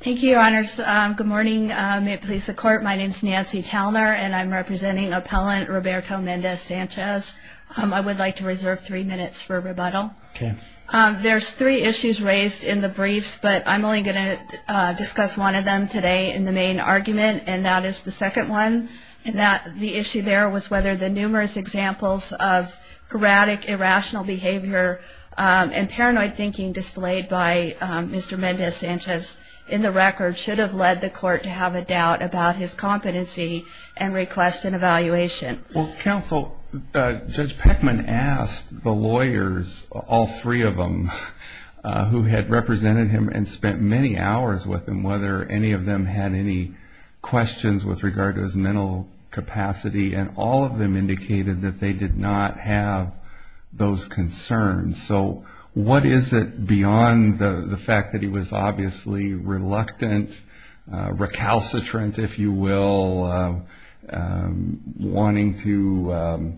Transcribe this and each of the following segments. Thank you, Your Honors. Good morning. May it please the Court, my name is Nancy Talner, and I'm representing Appellant Roberto Mendez-Sanchez. I would like to reserve three minutes for rebuttal. There's three issues raised in the briefs, but I'm only going to discuss one of them today in the main argument, and that is the second one, and the issue there was whether the numerous examples of erratic, irrational behavior and paranoid thinking displayed by Mr. Mendez-Sanchez in the record should have led the Court to have a doubt about his competency and request an evaluation. Well, Counsel, Judge Peckman asked the lawyers, all three of them who had represented him and spent many hours with him, whether any of them had any questions with regard to his mental capacity, and all of them indicated that they did not have those concerns. So what is it beyond the fact that he was obviously reluctant, recalcitrant, if you will, wanting to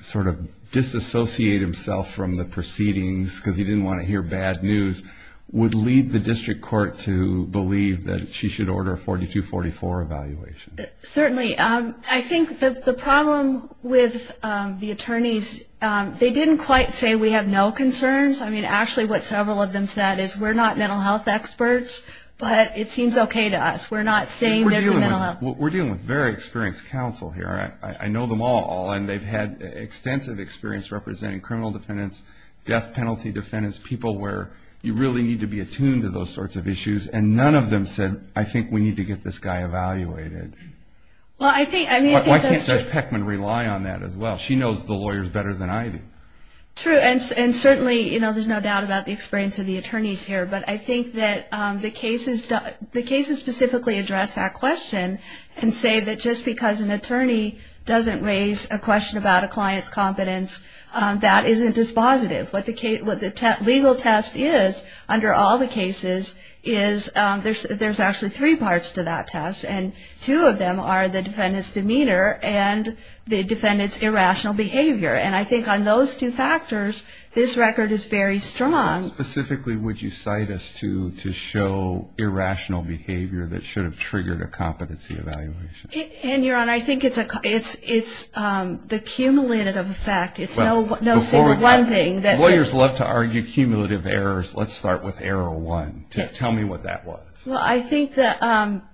sort of disassociate himself from the proceedings because he didn't want to hear bad news, would lead the District Court to believe that she should order a 42-44 evaluation? Certainly. I think that the problem with the attorneys, they didn't quite say we have no concerns. I mean, actually what several of them said is we're not mental health experts, but it seems okay to us. We're not saying there's a mental health problem. We're dealing with very experienced counsel here. I know them all, and they've had extensive experience representing criminal defendants, death penalty defendants, people where you really need to be attuned to those sorts of issues, and none of them said, I think we need to get this guy evaluated. Why can't Judge Peckman rely on that as well? She knows the lawyers better than I do. True, and certainly there's no doubt about the experience of the attorneys here, but I think that the cases specifically address that question and say that just because an attorney doesn't raise a question about a client's competence, that isn't dispositive. What the legal test is under all the cases is there's actually three parts to that test, and two of them are the defendant's demeanor and the defendant's irrational behavior. And I think on those two factors, this record is very strong. Specifically, would you cite us to show irrational behavior that should have triggered a competency evaluation? Your Honor, I think it's the cumulative effect. It's no single one thing. Lawyers love to argue cumulative errors. Let's start with error one. Tell me what that was. Well, I think that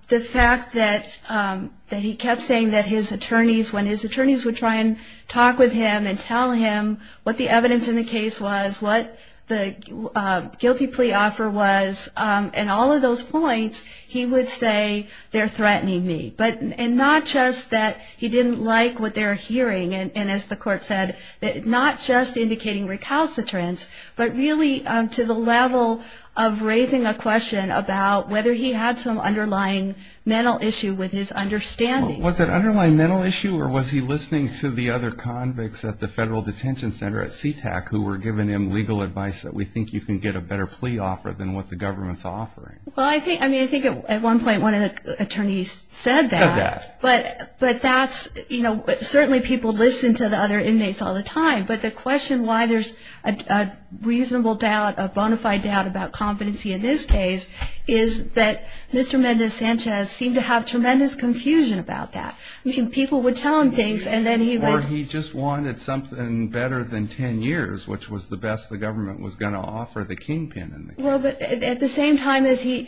the fact that he kept saying that his attorneys, when his attorneys would try and talk with him and tell him what the evidence in the case was, what the guilty plea offer was, and all of those points, he would say, they're threatening me. And not just that he didn't like what they were hearing, and as the Court said, not just indicating recalcitrance, but really to the level of raising a question about whether he had some underlying mental issue with his understanding. Was it an underlying mental issue or was he listening to the other convicts at the Federal Detention Center at CTAC who were giving him legal advice that we think you can get a better plea offer than what the government's offering? Well, I think, I mean, I think at one point one of the attorneys said that. But that's, you know, certainly people listen to the other inmates all the time. But the question why there's a reasonable doubt, a bona fide doubt about competency in this case, is that Mr. Mendez-Sanchez seemed to have tremendous confusion about that. I mean, people would tell him things and then he would. Or he just wanted something better than 10 years, which was the best the government was going to offer the kingpin in the case. At the same time as he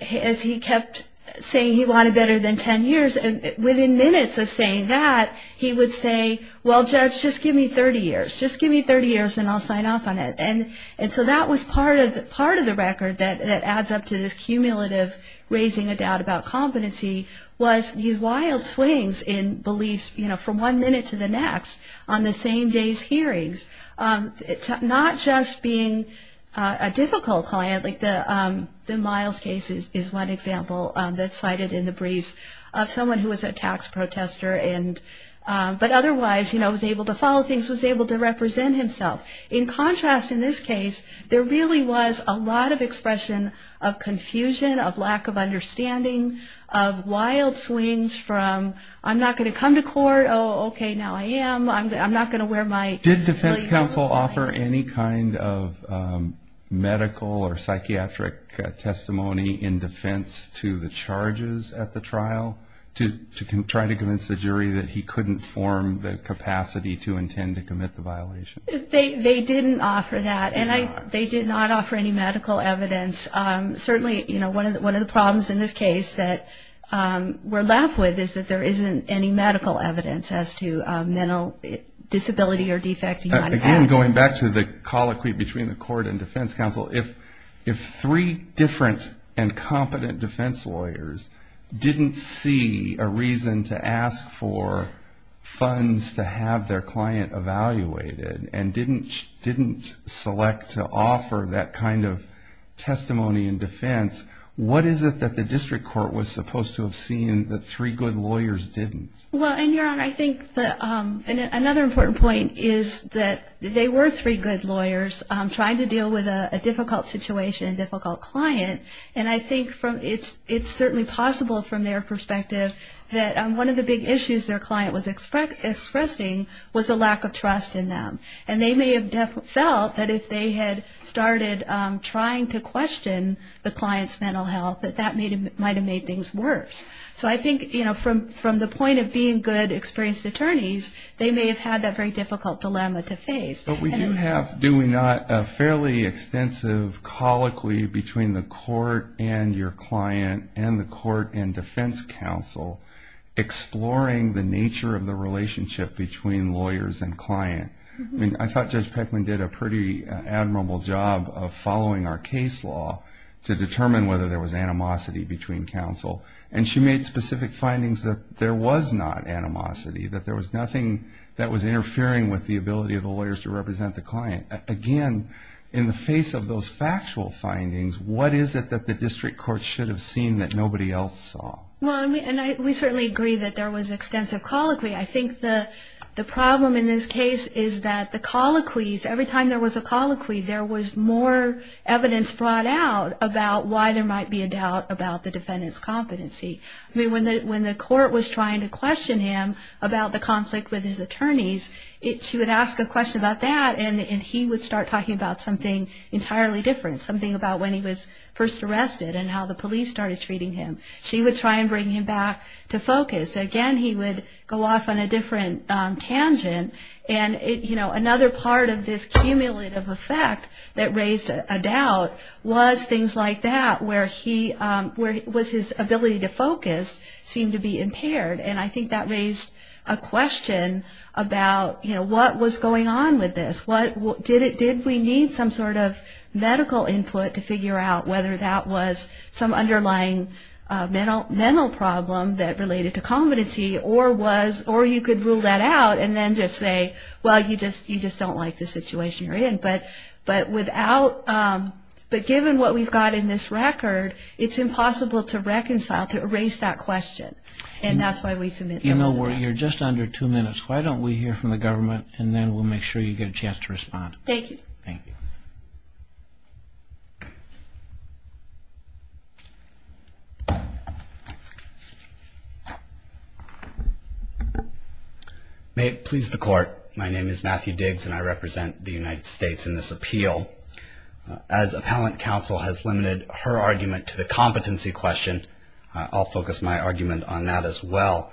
kept saying he wanted better than 10 years, within minutes of saying that he would say, well, judge, just give me 30 years. Just give me 30 years and I'll sign off on it. And so that was part of the record that adds up to this cumulative raising a doubt about competency was these wild swings in beliefs, you know, from one minute to the next on the same day's hearings. Not just being a difficult client. Like the Miles case is one example that's cited in the briefs of someone who was a tax protester. But otherwise, you know, was able to follow things, was able to represent himself. In contrast in this case, there really was a lot of expression of confusion, of lack of understanding, of wild swings from I'm not going to come to court, oh, okay, now I am. I'm not going to wear my. Did defense counsel offer any kind of medical or psychiatric testimony in defense to the charges at the trial to try to convince the jury that he couldn't form the capacity to intend to commit the violation? They didn't offer that. And they did not offer any medical evidence. Certainly, you know, one of the problems in this case that we're left with is that there isn't any medical evidence as to mental disability or defect. Again, going back to the colloquy between the court and defense counsel, if three different and competent defense lawyers didn't see a reason to ask for funds to have their client evaluated and didn't select to offer that kind of testimony in defense, what is it that the district court was supposed to have seen that three good lawyers didn't? Well, and Your Honor, I think that another important point is that they were three good lawyers trying to deal with a difficult situation, difficult client. And I think it's certainly possible from their perspective that one of the big issues their client was expressing was a lack of trust in them. And they may have felt that if they had started trying to question the client's mental health, that that might have made things worse. So I think, you know, from the point of being good, experienced attorneys, they may have had that very difficult dilemma to face. But we do have, do we not, a fairly extensive colloquy between the court and your client and the court and defense counsel exploring the nature of the relationship between lawyers and client. I mean, I thought Judge Peckman did a pretty admirable job of following our case law to determine whether there was animosity between counsel. And she made specific findings that there was not animosity, that there was nothing that was interfering with the ability of the lawyers to represent the client. Again, in the face of those factual findings, what is it that the district court should have seen that nobody else saw? Well, I mean, and we certainly agree that there was extensive colloquy. I think the problem in this case is that the colloquies, every time there was a colloquy, there was more evidence brought out about why there might be a doubt about the defendant's competency. I mean, when the court was trying to question him about the conflict with his attorneys, she would ask a question about that, and he would start talking about something entirely different, something about when he was first arrested and how the police started treating him. She would try and bring him back to focus. Again, he would go off on a different tangent. And, you know, another part of this cumulative effect that raised a doubt was things like that, where his ability to focus seemed to be impaired. And I think that raised a question about, you know, what was going on with this? Did we need some sort of medical input to figure out whether that was some underlying mental problem that related to competency, or you could rule that out and then just say, well, you just don't like the situation you're in. But given what we've got in this record, it's impossible to reconcile, to erase that question. And that's why we submit those. You know, you're just under two minutes. Why don't we hear from the government, and then we'll make sure you get a chance to respond. Thank you. Thank you. May it please the Court, my name is Matthew Diggs, and I represent the United States in this appeal. As appellant counsel has limited her argument to the competency question, I'll focus my argument on that as well.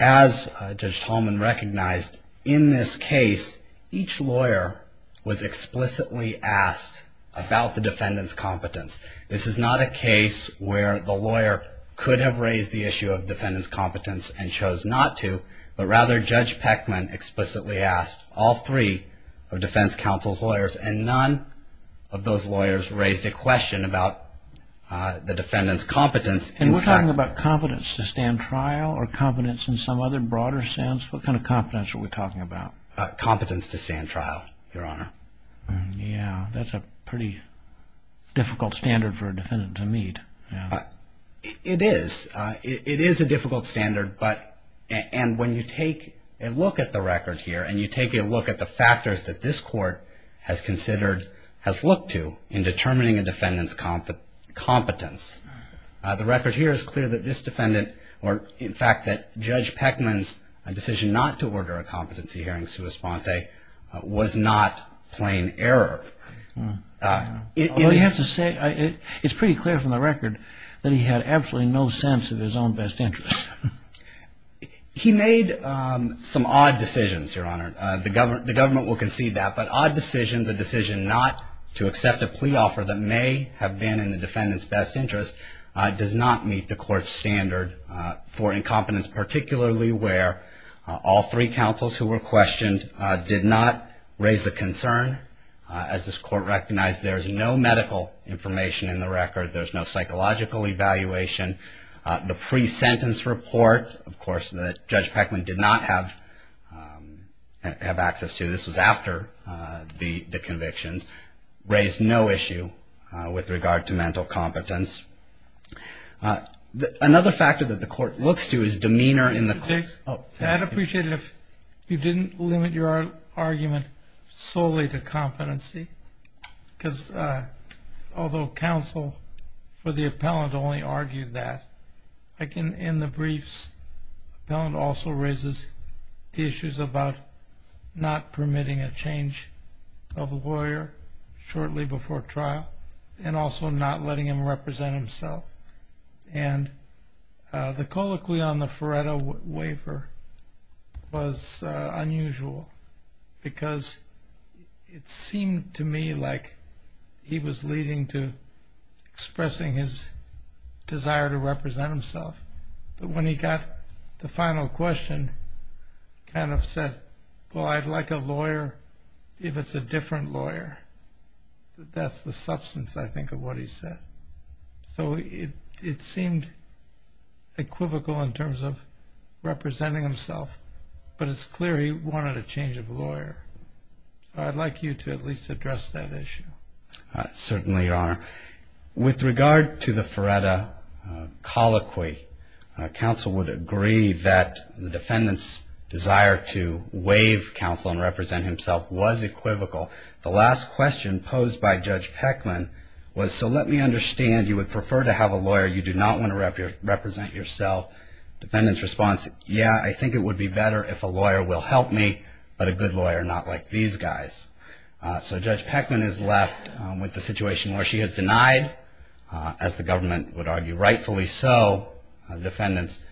As Judge Tolman recognized, in this case, each lawyer was explicitly asked about the defendant's competence. This is not a case where the lawyer could have raised the issue of defendant's competence and chose not to, but rather Judge Peckman explicitly asked all three of defense counsel's lawyers, and none of those lawyers raised a question about the defendant's competence. And we're talking about competence to stand trial or competence in some other broader sense? What kind of competence are we talking about? Competence to stand trial, Your Honor. Yeah, that's a pretty difficult standard for a defendant to meet. It is. It is a difficult standard, and when you take a look at the record here, and you take a look at the factors that this Court has considered, has looked to, in determining a defendant's competence, the record here is clear that this defendant, or in fact that Judge Peckman's decision not to order a competency hearing sua sponte, was not plain error. You have to say, it's pretty clear from the record that he had absolutely no sense of his own best interest. He made some odd decisions, Your Honor. The government will concede that. But odd decisions, a decision not to accept a plea offer that may have been in the defendant's best interest, does not meet the Court's standard for incompetence, particularly where all three counsels who were questioned did not raise a concern. As this Court recognized, there's no medical information in the record. There's no psychological evaluation. The pre-sentence report, of course, that Judge Peckman did not have access to, this was after the convictions, raised no issue with regard to mental competence. Another factor that the Court looks to is demeanor in the court. I'd appreciate it if you didn't limit your argument solely to competency, because although counsel for the appellant only argued that, in the briefs, the appellant also raises the issues about not permitting a change of a lawyer shortly before trial, and also not letting him represent himself. And the colloquy on the Faretto waiver was unusual, because it seemed to me like he was leading to expressing his desire to represent himself. But when he got the final question, he kind of said, well, I'd like a lawyer if it's a different lawyer. That's the substance, I think, of what he said. So it seemed equivocal in terms of representing himself, but it's clear he wanted a change of lawyer. So I'd like you to at least address that issue. Certainly, Your Honor. With regard to the Faretto colloquy, counsel would agree that the defendant's desire to waive counsel and represent himself was equivocal. The last question posed by Judge Peckman was, so let me understand you would prefer to have a lawyer you do not want to represent yourself. Defendant's response, yeah, I think it would be better if a lawyer will help me, but a good lawyer, not like these guys. So Judge Peckman is left with the situation where she is denied, as the government would argue rightfully so, the defendant's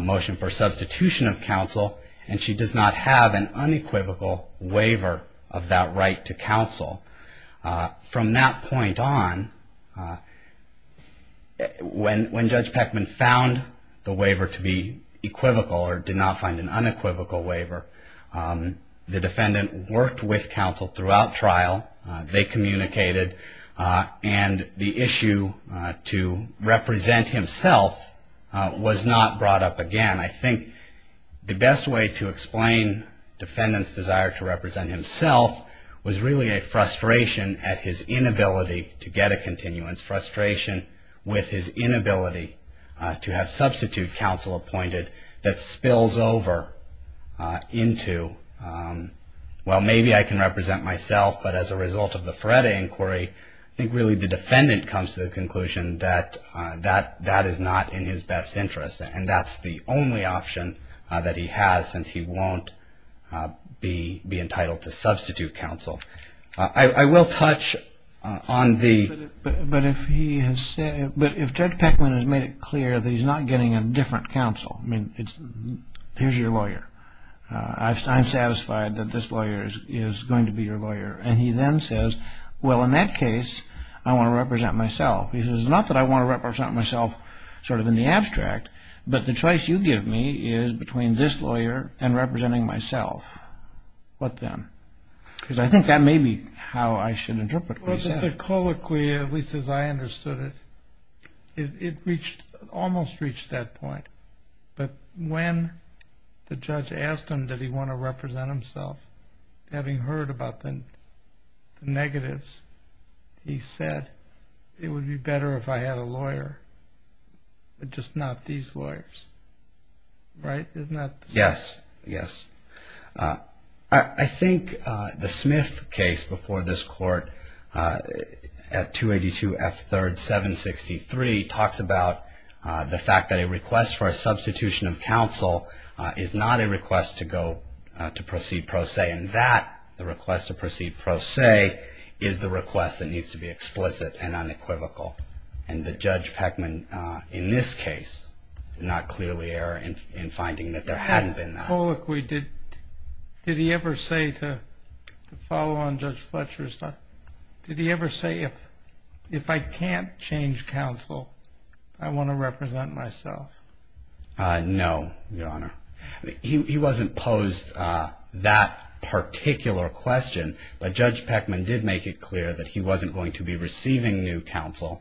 motion for substitution of counsel, and she does not have an unequivocal waiver of that right to counsel. From that point on, when Judge Peckman found the waiver to be equivocal or did not find an unequivocal waiver, the defendant worked with counsel throughout trial. They communicated, and the issue to represent himself was not brought up again. I think the best way to explain defendant's desire to represent himself was really a frustration at his inability to get a continuance. Frustration with his inability to have substitute counsel appointed that spills over into, well, maybe I can represent myself, but as a result of the Faretto inquiry, I think really the defendant comes to the conclusion that that is not in his best interest. And that's the only option that he has since he won't be entitled to substitute counsel. I will touch on the... But if Judge Peckman has made it clear that he's not getting a different counsel, I mean, here's your lawyer. I'm satisfied that this lawyer is going to be your lawyer. And he then says, well, in that case, I want to represent myself. He says, not that I want to represent myself sort of in the abstract, but the choice you give me is between this lawyer and representing myself. What then? Because I think that may be how I should interpret what he said. Well, the colloquy, at least as I understood it, it almost reached that point. But when the judge asked him did he want to represent himself, having heard about the negatives, he said, it would be better if I had a lawyer, but just not these lawyers. Right? Isn't that... Yes. Yes. I think the Smith case before this court at 282 F. 3rd, 763, talks about the fact that a request for a substitution of counsel is not a request to go to proceed pro se. And that, the request to proceed pro se, is the request that needs to be explicit and unequivocal. And Judge Peckman, in this case, not clearly error in finding that there hadn't been that. That colloquy, did he ever say to follow on Judge Fletcher's? Did he ever say, if I can't change counsel, I want to represent myself? No, Your Honor. He wasn't posed that particular question, but Judge Peckman did make it clear that he wasn't going to be receiving new counsel.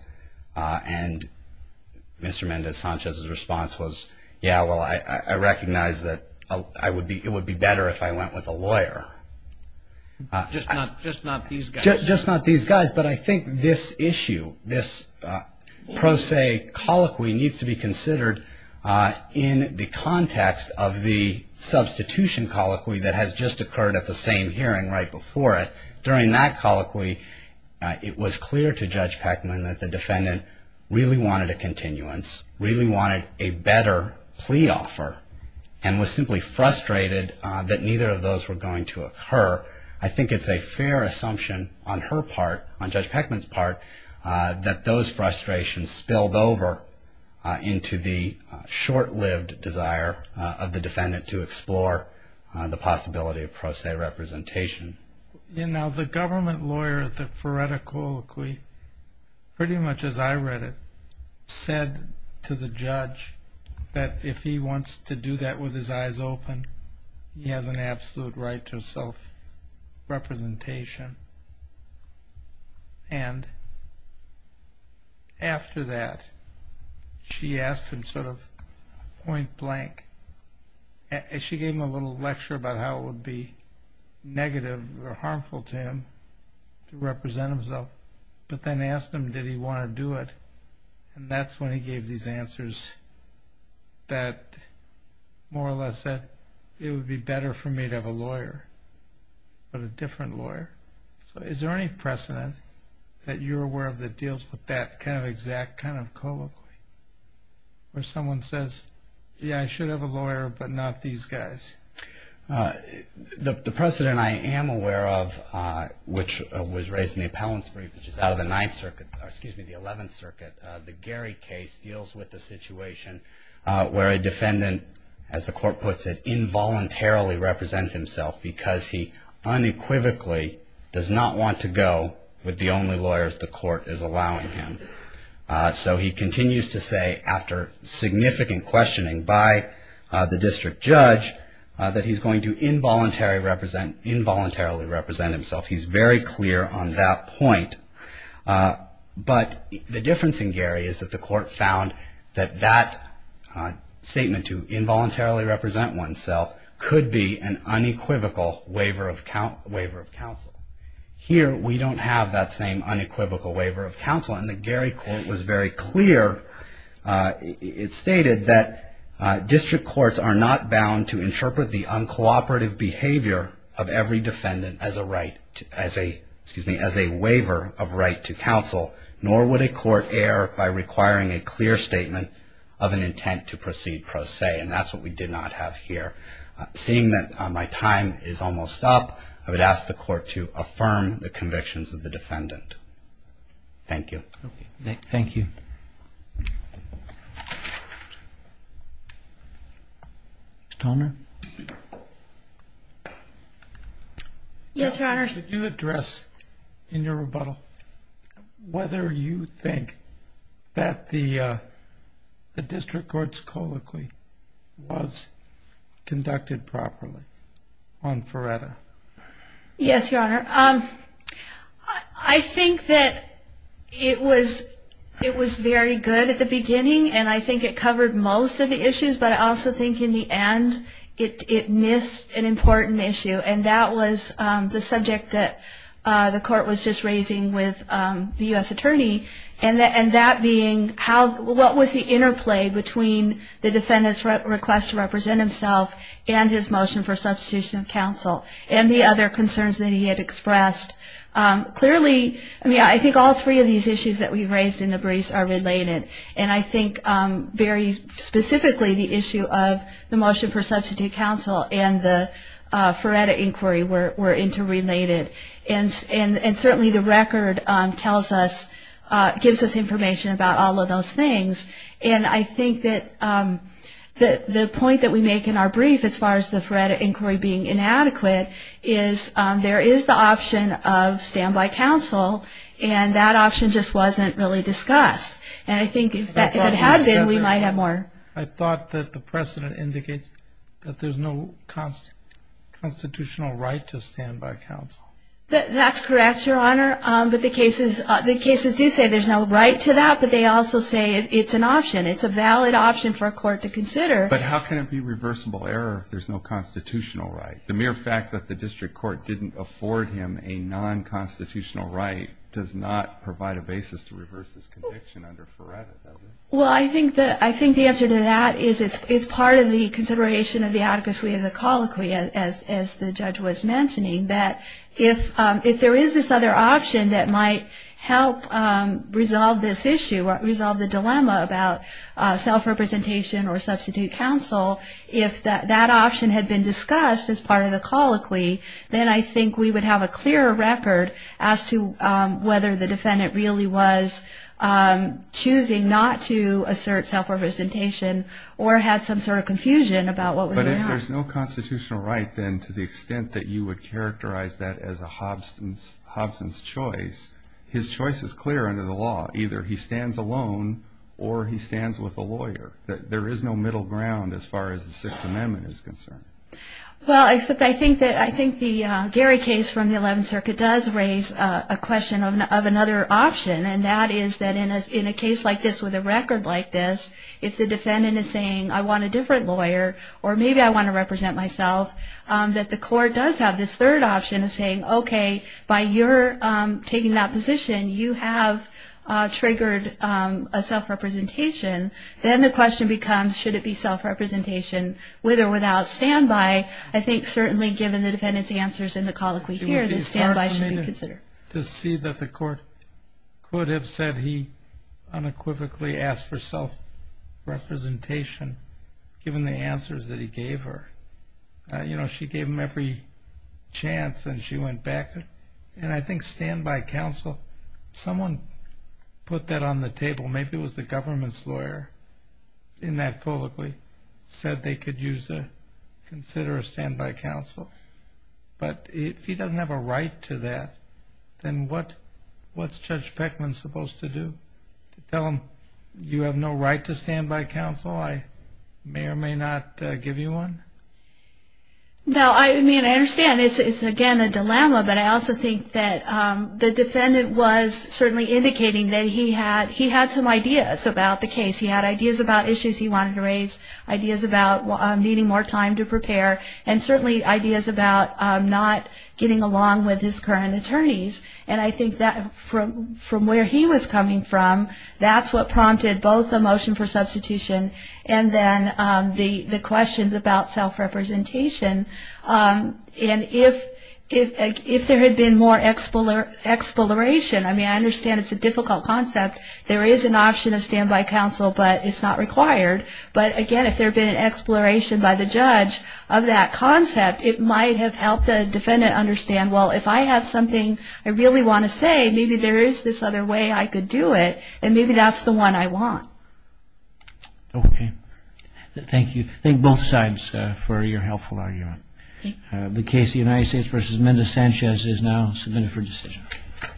And Mr. Mendez-Sanchez's response was, yeah, well, I recognize that it would be better if I went with a lawyer. Just not these guys. Just not these guys. But I think this issue, this pro se colloquy, needs to be considered in the context of the substitution colloquy that has just occurred at the same hearing right before it. During that colloquy, it was clear to Judge Peckman that the defendant really wanted a continuance, really wanted a better plea offer, and was simply frustrated that neither of those were going to occur. I think it's a fair assumption on her part, on Judge Peckman's part, that those frustrations spilled over into the short-lived desire of the defendant to explore the possibility of pro se representation. You know, the government lawyer at the Feretta Colloquy, pretty much as I read it, said to the judge that if he wants to do that with his eyes open, he has an absolute right to self-representation. And after that, she asked him sort of point blank. She gave him a little lecture about how it would be negative or harmful to him to represent himself, but then asked him, did he want to do it? And that's when he gave these answers that more or less said, it would be better for me to have a lawyer, but a different lawyer. So is there any precedent that you're aware of that deals with that kind of exact kind of colloquy? Where someone says, yeah, I should have a lawyer, but not these guys? The precedent I am aware of, which was raised in the appellant's brief, which is out of the Ninth Circuit, or excuse me, the Eleventh Circuit, the Gary case deals with the situation where a defendant, as the court puts it, involuntarily represents himself because he unequivocally does not want to go with the only lawyers the court is allowing him. So he continues to say, after significant questioning by the district judge, that he's going to involuntarily represent himself. He's very clear on that point. But the difference in Gary is that the court found that that statement, to involuntarily represent oneself, could be an unequivocal waiver of counsel. Here, we don't have that same unequivocal waiver of counsel. And the Gary court was very clear. It stated that district courts are not bound to interpret the uncooperative behavior of every defendant as a waiver of right to counsel, nor would a court err by requiring a clear statement of an intent to proceed pro se. And that's what we did not have here. Seeing that my time is almost up, I would ask the court to affirm the convictions of the defendant. Thank you. Thank you. Yes, Your Honors. Could you address, in your rebuttal, whether you think that the district court's colloquy was conducted properly on Feretta? Yes, Your Honor. I think that it was very good at the beginning, and I think it covered most of the issues, but I also think in the end it missed an important issue, and that was the subject that the court was just raising with the U.S. attorney, and that being what was the interplay between the defendant's request to represent himself and his motion for substitution of counsel, and the other concerns that he had expressed. Clearly, I think all three of these issues that we've raised in the briefs are related, and I think very specifically the issue of the motion for substitute counsel and the Feretta inquiry were interrelated. And certainly the record gives us information about all of those things, and I think that the point that we make in our brief, as far as the Feretta inquiry being inadequate, is there is the option of standby counsel, and that option just wasn't really discussed. And I think if it had been, we might have more. I thought that the precedent indicates that there's no constitutional right to standby counsel. That's correct, Your Honor, but the cases do say there's no right to that, but they also say it's an option. It's a valid option for a court to consider. But how can it be reversible error if there's no constitutional right? The mere fact that the district court didn't afford him a non-constitutional right does not provide a basis to reverse this conviction under Feretta, does it? Well, I think the answer to that is it's part of the consideration of the atticus we have in the colloquy, as the judge was mentioning, that if there is this other option that might help resolve this issue, resolve the dilemma about self-representation or substitute counsel, if that option had been discussed as part of the colloquy, then I think we would have a clearer record as to whether the defendant really was choosing not to assert self-representation or had some sort of confusion about what was going on. But if there's no constitutional right, then, to the extent that you would characterize that as a Hobson's choice, his choice is clear under the law. Either he stands alone or he stands with a lawyer. There is no middle ground as far as the Sixth Amendment is concerned. Well, I think the Gary case from the Eleventh Circuit does raise a question of another option, and that is that in a case like this with a record like this, if the defendant is saying, I want a different lawyer, or maybe I want to represent myself, that the court does have this third option of saying, okay, by your taking that position, you have triggered a self-representation, then the question becomes, should it be self-representation with or without standby? I think certainly given the defendant's answers in the colloquy here, that standby should be considered. It would be hard for me to see that the court could have said he unequivocally asked for self-representation given the answers that he gave her. You know, she gave him every chance and she went back. And I think standby counsel, someone put that on the table. Maybe it was the government's lawyer in that colloquy said they could consider a standby counsel. But if he doesn't have a right to that, then what's Judge Beckman supposed to do? Tell him you have no right to standby counsel? I may or may not give you one? No, I mean, I understand it's, again, a dilemma, but I also think that the defendant was certainly indicating that he had some ideas about the case. He had ideas about issues he wanted to raise, ideas about needing more time to prepare, and certainly ideas about not getting along with his current attorneys. And I think that from where he was coming from, that's what prompted both the motion for substitution and then the questions about self-representation. And if there had been more exploration, I mean, I understand it's a difficult concept. There is an option of standby counsel, but it's not required. But again, if there had been an exploration by the judge of that concept, it might have helped the defendant understand, well, if I have something I really want to say, maybe there is this other way I could do it, and maybe that's the one I want. Okay. Thank you. Thank both sides for your helpful argument. The case of the United States v. Mendoza-Sanchez is now submitted for decision.